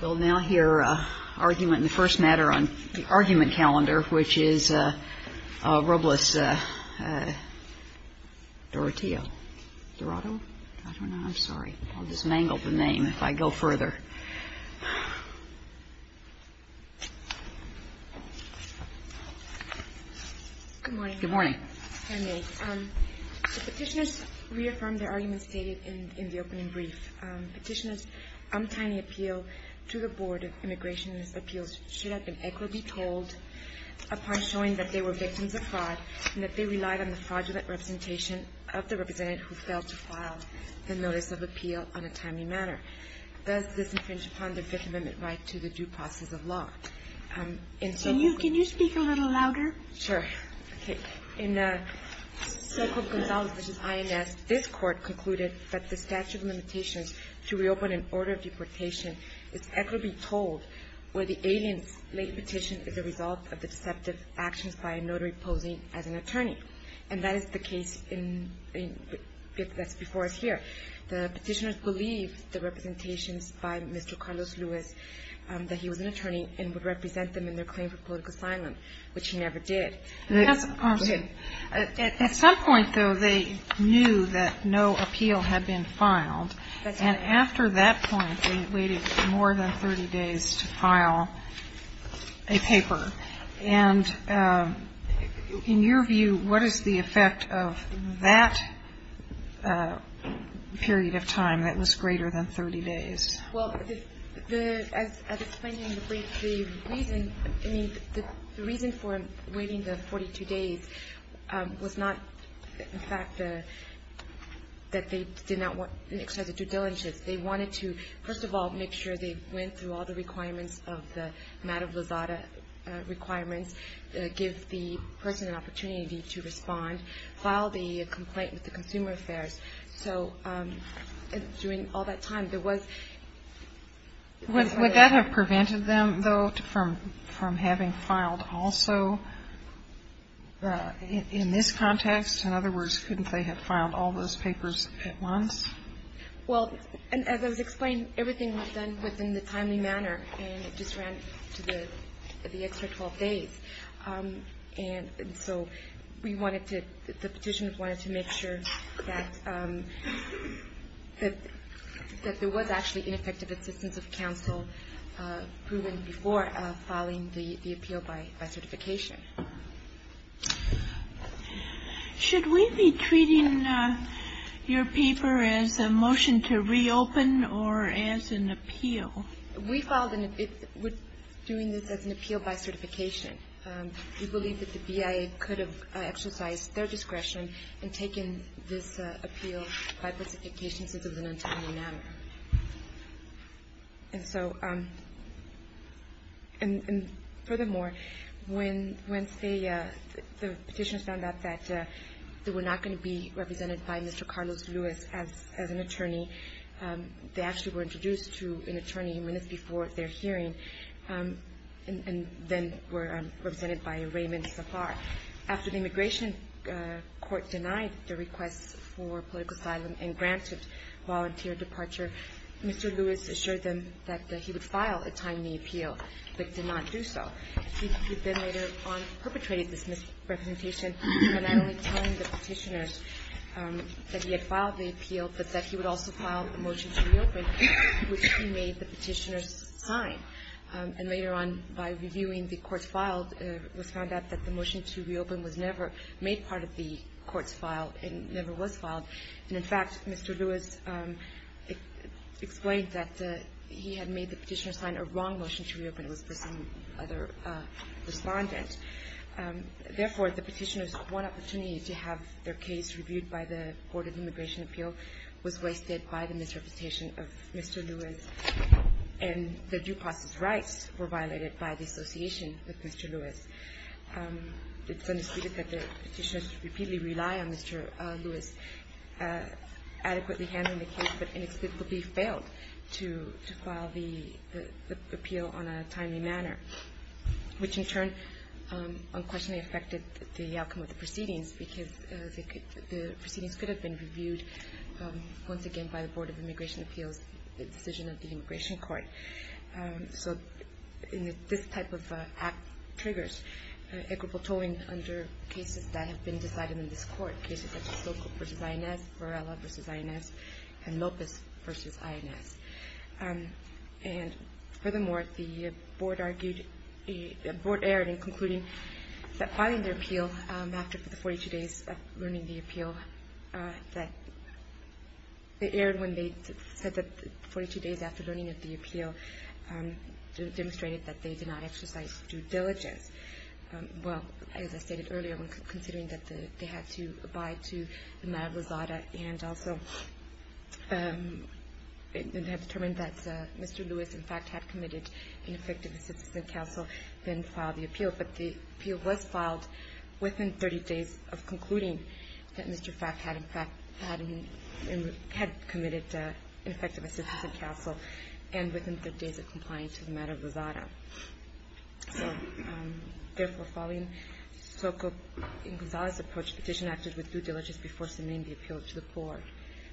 We'll now hear an argument in the first matter on the argument calendar, which is Robles-Doroteo. I don't know. I'm sorry. I'll just mangle the name if I go further. Petitioners reaffirmed their arguments stated in the opening brief. Petitioners' untimely appeal to the Board of Immigration Appeals should have been equitably told upon showing that they were victims of fraud and that they relied on the fraudulent representation of the representative who failed to file the notice of appeal on a timely manner. Does this infringe upon the Fifth Amendment right to the due process of law? Can you speak a little louder? Sure. Okay. In the so-called Gonzales v. INS, this Court concluded that the statute of limitations to reopen an order of deportation is equitably told where the alien's late petition is a result of the deceptive actions by a notary posing as an attorney. And that is the case that's before us here. The petitioners believe the representations by Mr. Carlos Luis that he was an attorney and would represent them in their claim for political asylum, which he never did. At some point, though, they knew that no appeal had been filed. And after that point, they waited more than 30 days to file a paper. And in your view, what is the effect of that period of time that was greater than 30 days? Well, as explained in the brief, the reason, I mean, the reason for waiting the 42 days was not, in fact, that they did not want an exercise of due diligence. They wanted to, first of all, make sure they went through all the requirements of the Maddox-Losada requirements, give the person an opportunity to respond, file the complaint with the Consumer Affairs. So during all that time, there was... Would that have prevented them, though, from having filed also in this context? In other words, couldn't they have filed all those papers at once? Well, as I was explaining, everything was done within the timely manner, and it just ran to the extra 12 days. And so we wanted to, the Petitioners wanted to make sure that there was actually ineffective assistance of counsel proven before filing the appeal by certification. Should we be treating your paper as a motion to reopen or as an appeal? We filed an appeal. We're doing this as an appeal by certification. We believe that the BIA could have exercised their discretion in taking this appeal by specification since it was an untimely manner. And so, and furthermore, when the Petitioners found out that they were not going to be represented by Mr. Carlos Lewis as an attorney, they actually were introduced to an attorney minutes before their hearing and then were represented by Raymond Safar. After the Immigration Court denied the request for political asylum and granted volunteer departure, Mr. Lewis assured them that he would file a timely appeal, but did not do so. He then later on perpetrated this misrepresentation by not only telling the Petitioners that he had filed the appeal, but that he would also file a motion to reopen, which he made the Petitioners sign. And later on, by reviewing the court's file, it was found out that the motion to reopen was never made part of the court's file and never was filed. And, in fact, Mr. Lewis explained that he had made the Petitioners sign a wrong motion to reopen. It was for some other Respondent. Therefore, the Petitioners' one opportunity to have their case reviewed by the Board of Immigration Appeal was wasted by the misrepresentation of Mr. Lewis, and their due process rights were violated by dissociation with Mr. Lewis. It's undisputed that the Petitioners repeatedly rely on Mr. Lewis adequately handling the case, but inexplicably failed to file the appeal on a timely manner, which in turn unquestionably affected the outcome of the proceedings, because the proceedings could have been reviewed once again by the Board of Immigration Appeal's decision of the Immigration Court. So this type of act triggers equitable tolling under cases that have been decided in this court, cases such as Sokol v. INS, Varela v. INS, and Lopez v. INS. And, furthermore, the Board argued, the Board erred in concluding that filing the appeal after the 42 days of learning the appeal, that they erred when they said that the 42 days after learning of the appeal demonstrated that they did not exercise due diligence. Well, as I stated earlier, when considering that they had to abide to the matter of Rosada, and also determined that Mr. Lewis, in fact, had committed ineffective assistance in counsel, then filed the appeal. But the appeal was filed within 30 days of concluding that Mr. Frack had, in fact, Therefore, following Sokol v. INS's approach, the petition acted with due diligence before submitting the appeal to the Board.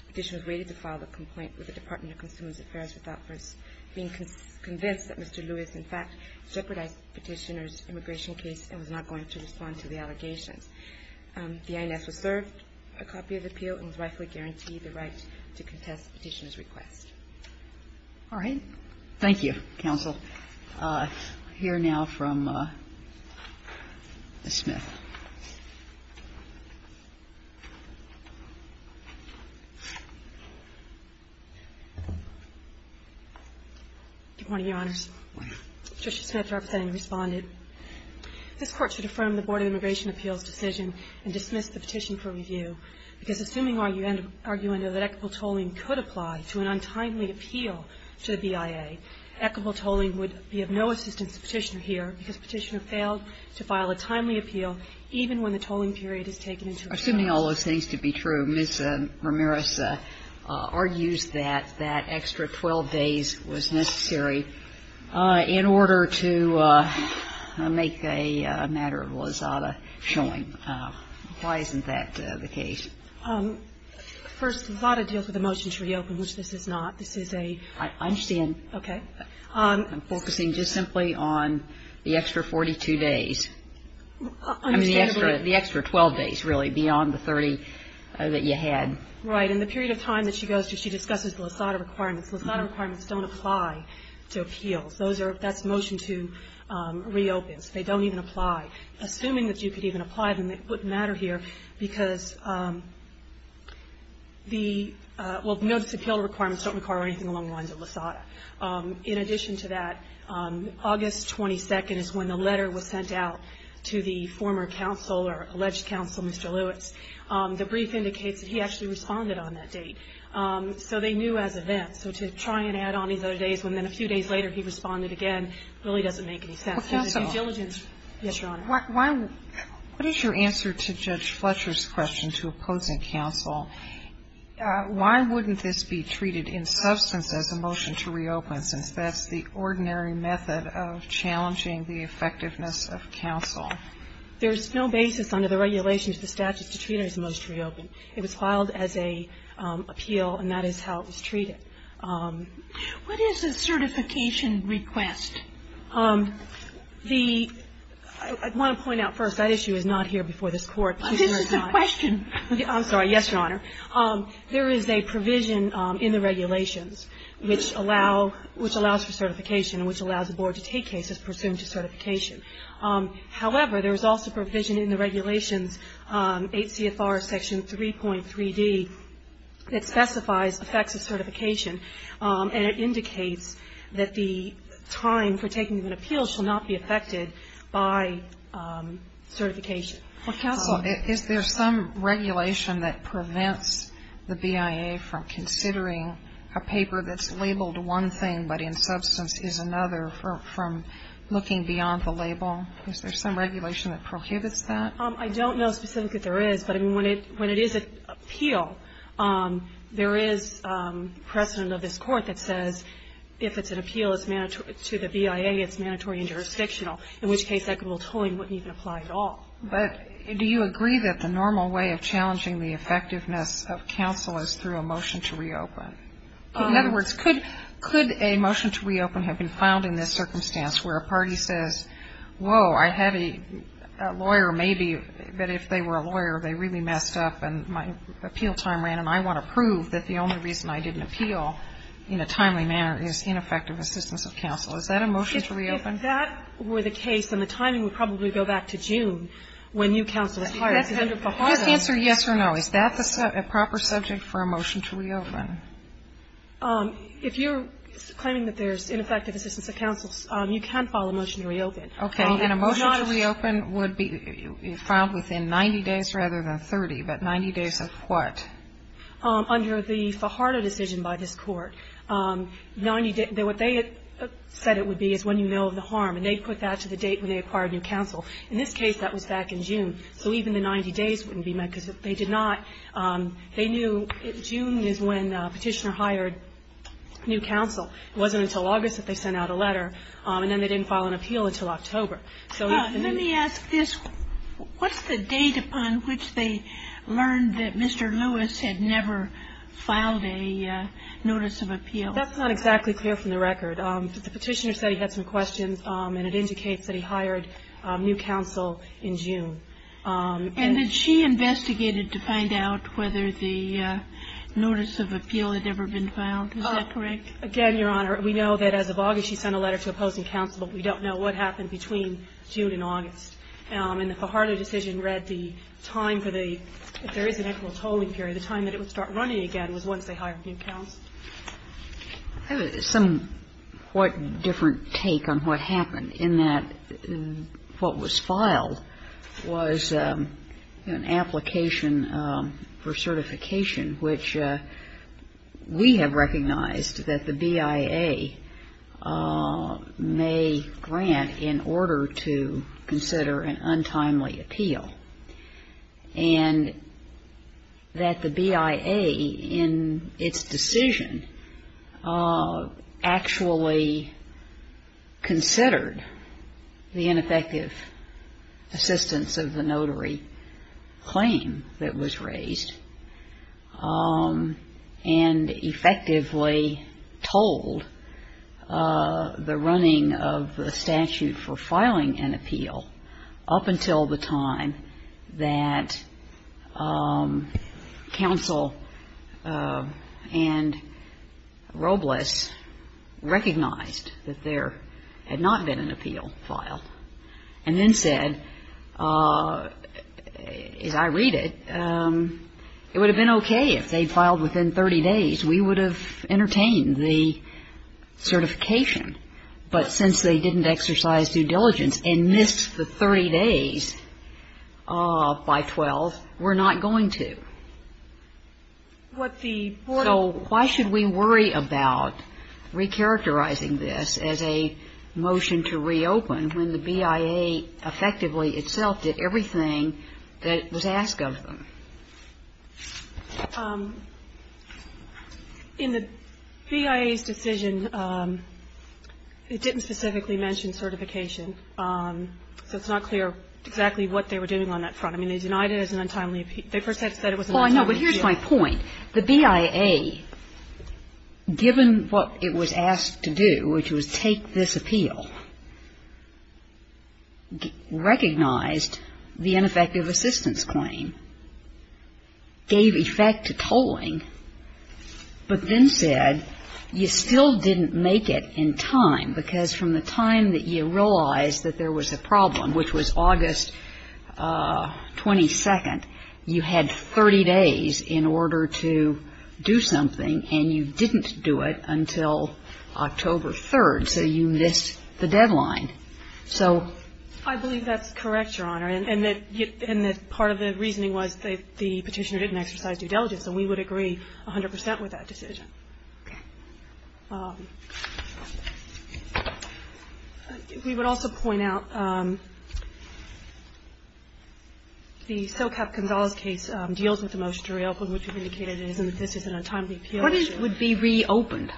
The petition was rated to file the complaint with the Department of Consumer Affairs without first being convinced that Mr. Lewis, in fact, jeopardized the petitioner's immigration case and was not going to respond to the allegations. The INS reserved a copy of the appeal and was rightfully guaranteed the right to contest the petitioner's request. All right. Thank you, counsel. I'll hear now from Ms. Smith. Good morning, Your Honors. Good morning. Justice Smith, representing, responded. This Court should affirm the Board of Immigration Appeals' decision and dismiss the petition for review because, assuming arguendo that equitable tolling could apply to an untimely appeal to the BIA, equitable tolling would be of no assistance to the petitioner here because the petitioner failed to file a timely appeal even when the tolling period is taken into account. Assuming all those things to be true, Ms. Ramirez argues that that extra 12 days was necessary in order to make a matter of lasada showing. Why isn't that the case? First, lasada deals with a motion to reopen, which this is not. This is a ‑‑ I understand. Okay. I'm focusing just simply on the extra 42 days. I mean, the extra 12 days, really, beyond the 30 that you had. Right. And in the period of time that she goes through, she discusses lasada requirements. Lasada requirements don't apply to appeals. Those are ‑‑ that's motion to reopen. So they don't even apply. Assuming that you could even apply them, it wouldn't matter here because the ‑‑ well, the notice of appeal requirements don't require anything along the lines of lasada. In addition to that, August 22nd is when the letter was sent out to the former counsel or alleged counsel, Mr. Lewis. The brief indicates that he actually responded on that date. So they knew as events. So to try and add on these other days when then a few days later he responded again really doesn't make any sense. Counsel, what is your answer to Judge Fletcher's question to opposing counsel? Why wouldn't this be treated in substance as a motion to reopen, since that's the ordinary method of challenging the effectiveness of counsel? There's no basis under the regulations for statutes to treat it as a motion to reopen. It was filed as an appeal, and that is how it was treated. What is a certification request? The ‑‑ I want to point out first, that issue is not here before this Court. This is a question. I'm sorry. Yes, Your Honor. There is a provision in the regulations which allow ‑‑ which allows for certification and which allows the board to take cases pursuant to certification. However, there is also provision in the regulations, 8 CFR section 3.3D, that specifies effects of certification, and it indicates that the time for taking an appeal shall not be affected by certification. Counsel, is there some regulation that prevents the BIA from considering a paper that's labeled one thing but in substance is another from looking beyond the label? Is there some regulation that prohibits that? I don't know specifically if there is, but when it is an appeal, there is precedent of this Court that says if it's an appeal to the BIA, it's mandatory and jurisdictional, in which case equitable tolling wouldn't even apply at all. But do you agree that the normal way of challenging the effectiveness of counsel is through a motion to reopen? In other words, could a motion to reopen have been found in this circumstance where a party says, whoa, I have a lawyer, maybe, but if they were a lawyer, they really messed up and my appeal time ran, and I want to prove that the only reason I didn't appeal in a timely manner is ineffective assistance of counsel. Is that a motion to reopen? If that were the case, then the timing would probably go back to June when new counsel is hired. You have to answer yes or no. Is that a proper subject for a motion to reopen? If you're claiming that there's ineffective assistance of counsel, you can file a motion to reopen. Okay. And a motion to reopen would be filed within 90 days rather than 30, but 90 days of what? Under the Fajardo decision by this Court, 90 days, what they said it would be is when you know of the harm, and they put that to the date when they acquired new counsel. In this case, that was back in June, so even the 90 days wouldn't be met because if they did not, they knew June is when Petitioner hired new counsel. It wasn't until August that they sent out a letter, and then they didn't file an appeal until October. So if they knew the date. Let me ask this. What's the date upon which they learned that Mr. Lewis had never filed a notice of appeal? That's not exactly clear from the record. The Petitioner said he had some questions, and it indicates that he hired new counsel in June. And did she investigate it to find out whether the notice of appeal had ever been filed? Is that correct? Again, Your Honor, we know that as of August, she sent a letter to opposing counsel, but we don't know what happened between June and August. And the Fajardo decision read the time for the, if there is an equitable tolling period, the time that it would start running again was once they hired new counsel. I have a somewhat different take on what happened in that what was filed was an application for certification which we have recognized that the BIA may grant in order to consider an untimely appeal. And that the BIA, in its decision, actually considered the ineffective assistance of the notary claim that was raised and effectively told the running of the statute for filing an appeal up until the time that counsel and Robles recognized that there had not been an appeal filed and then said, as I read it, it would have been okay if they filed within 30 days. We would have entertained the certification. But since they didn't exercise due diligence and missed the 30 days by 12, we're not going to. So why should we worry about recharacterizing this as a motion to reopen when the BIA effectively itself did everything that was asked of them? In the BIA's decision, it didn't specifically mention certification. So it's not clear exactly what they were doing on that front. I mean, they denied it as an untimely appeal. They first said it was an untimely appeal. Well, I know, but here's my point. The BIA, given what it was asked to do, which was take this appeal, recognized the ineffective assistance claim, gave effect to tolling, but then said you still didn't make it in time, because from the time that you realized that there was a problem, which was August 22nd, you had 30 days in order to do something, and you didn't do it until October 3rd, so you missed the deadline. So... I believe that's correct, Your Honor, and that part of the reasoning was that the Petitioner didn't exercise due diligence, and we would agree 100 percent with that decision. Okay. We would also point out the Socap-Gonzalez case deals with the motion to reopen, which indicated it isn't a timely appeal. What would be reopened?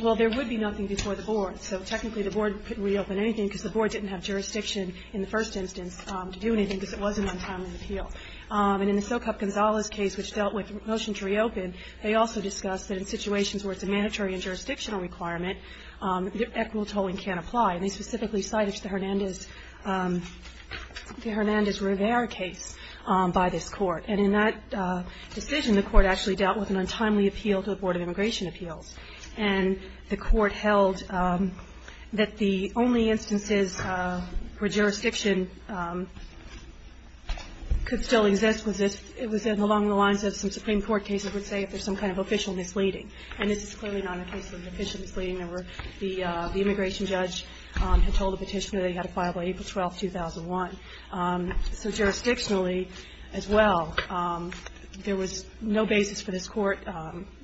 Well, there would be nothing before the board, so technically the board couldn't reopen anything because the board didn't have jurisdiction in the first instance to do anything because it was an untimely appeal. And in the Socap-Gonzalez case, which dealt with the motion to reopen, they also discussed that in situations where it's a mandatory and jurisdictional requirement, equitable tolling can't apply. And they specifically cited the Hernandez-Rivera case by this Court. And in that decision, the Court actually dealt with an untimely appeal to the Board of Immigration Appeals, and the Court held that the only instances where jurisdiction could still exist was along the lines of some Supreme Court cases would say if there's some kind of official misleading. And this is clearly not a case of official misleading. The immigration judge had told the Petitioner they had to file by April 12th, 2001. So jurisdictionally as well, there was no basis for this Court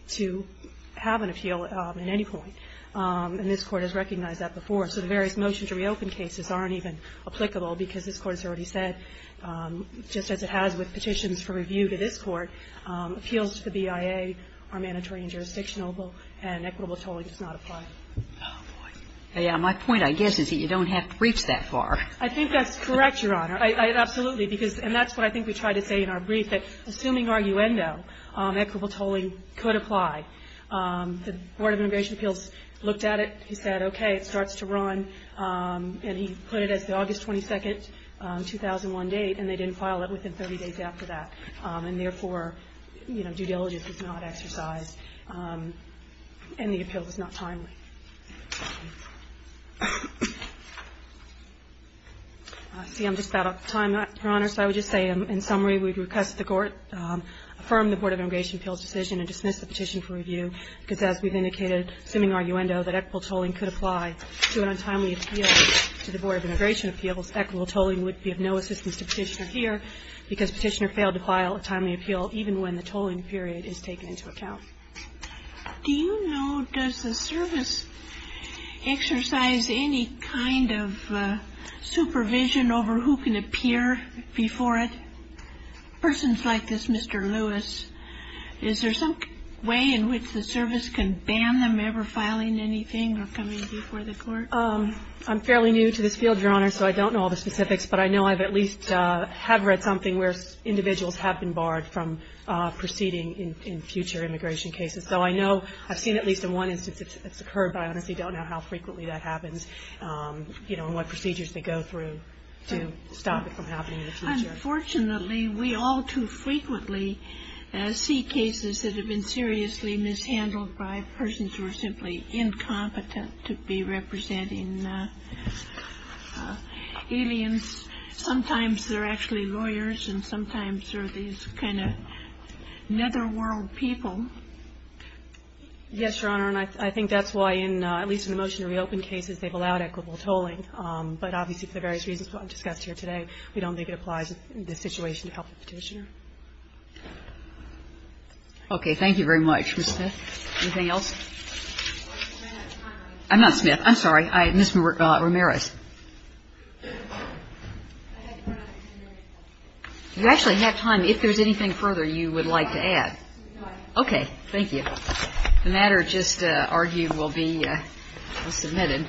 to have an appeal at any point. And this Court has recognized that before. So the various motions to reopen cases aren't even applicable because this Court has already said, just as it has with petitions for review to this Court, appeals to the BIA are mandatory and jurisdictional, and equitable tolling does not apply. Oh, boy. Yeah, my point, I guess, is that you don't have to reach that far. I think that's correct, Your Honor. Absolutely. And that's what I think we tried to say in our brief, that assuming arguendo, equitable tolling could apply. The Board of Immigration Appeals looked at it. He said, okay, it starts to run. And he put it as the August 22nd, 2001 date, and they didn't file it within 30 days after that. And therefore, you know, due diligence is not exercised, and the appeal was not timely. See, I'm just about out of time, Your Honor. So I would just say, in summary, we would request the Court affirm the Board of Immigration Appeals' decision and dismiss the petition for review, because as we've indicated, assuming arguendo, that equitable tolling could apply to an untimely appeal to the Board of Immigration Appeals, equitable tolling would be of no assistance to Petitioner here because Petitioner failed to file a timely appeal even when the tolling period is taken into account. Do you know, does the service exercise any kind of supervision over who can appear before it? Persons like this, Mr. Lewis, is there some way in which the service can ban them ever filing anything or coming before the Court? I'm fairly new to this field, Your Honor, so I don't know all the specifics, but I know I at least have read something where individuals have been barred from proceeding in future immigration cases, though I know I've seen at least in one instance it's occurred, but I honestly don't know how frequently that happens, you know, and what procedures they go through to stop it from happening in the future. Unfortunately, we all too frequently see cases that have been seriously mishandled by persons who are simply incompetent to be representing aliens. Sometimes they're actually lawyers and sometimes they're these kind of netherworld people. Yes, Your Honor, and I think that's why, at least in the motion to reopen cases, they've allowed equitable tolling. But obviously for the various reasons discussed here today, we don't think it applies in this situation to help the Petitioner. Okay. Thank you very much, Ms. Smith. Anything else? I'm not Smith. I'm sorry. Ms. Ramirez. You actually have time. If there's anything further you would like to add. Okay. Thank you. The matter just argued will be submitted.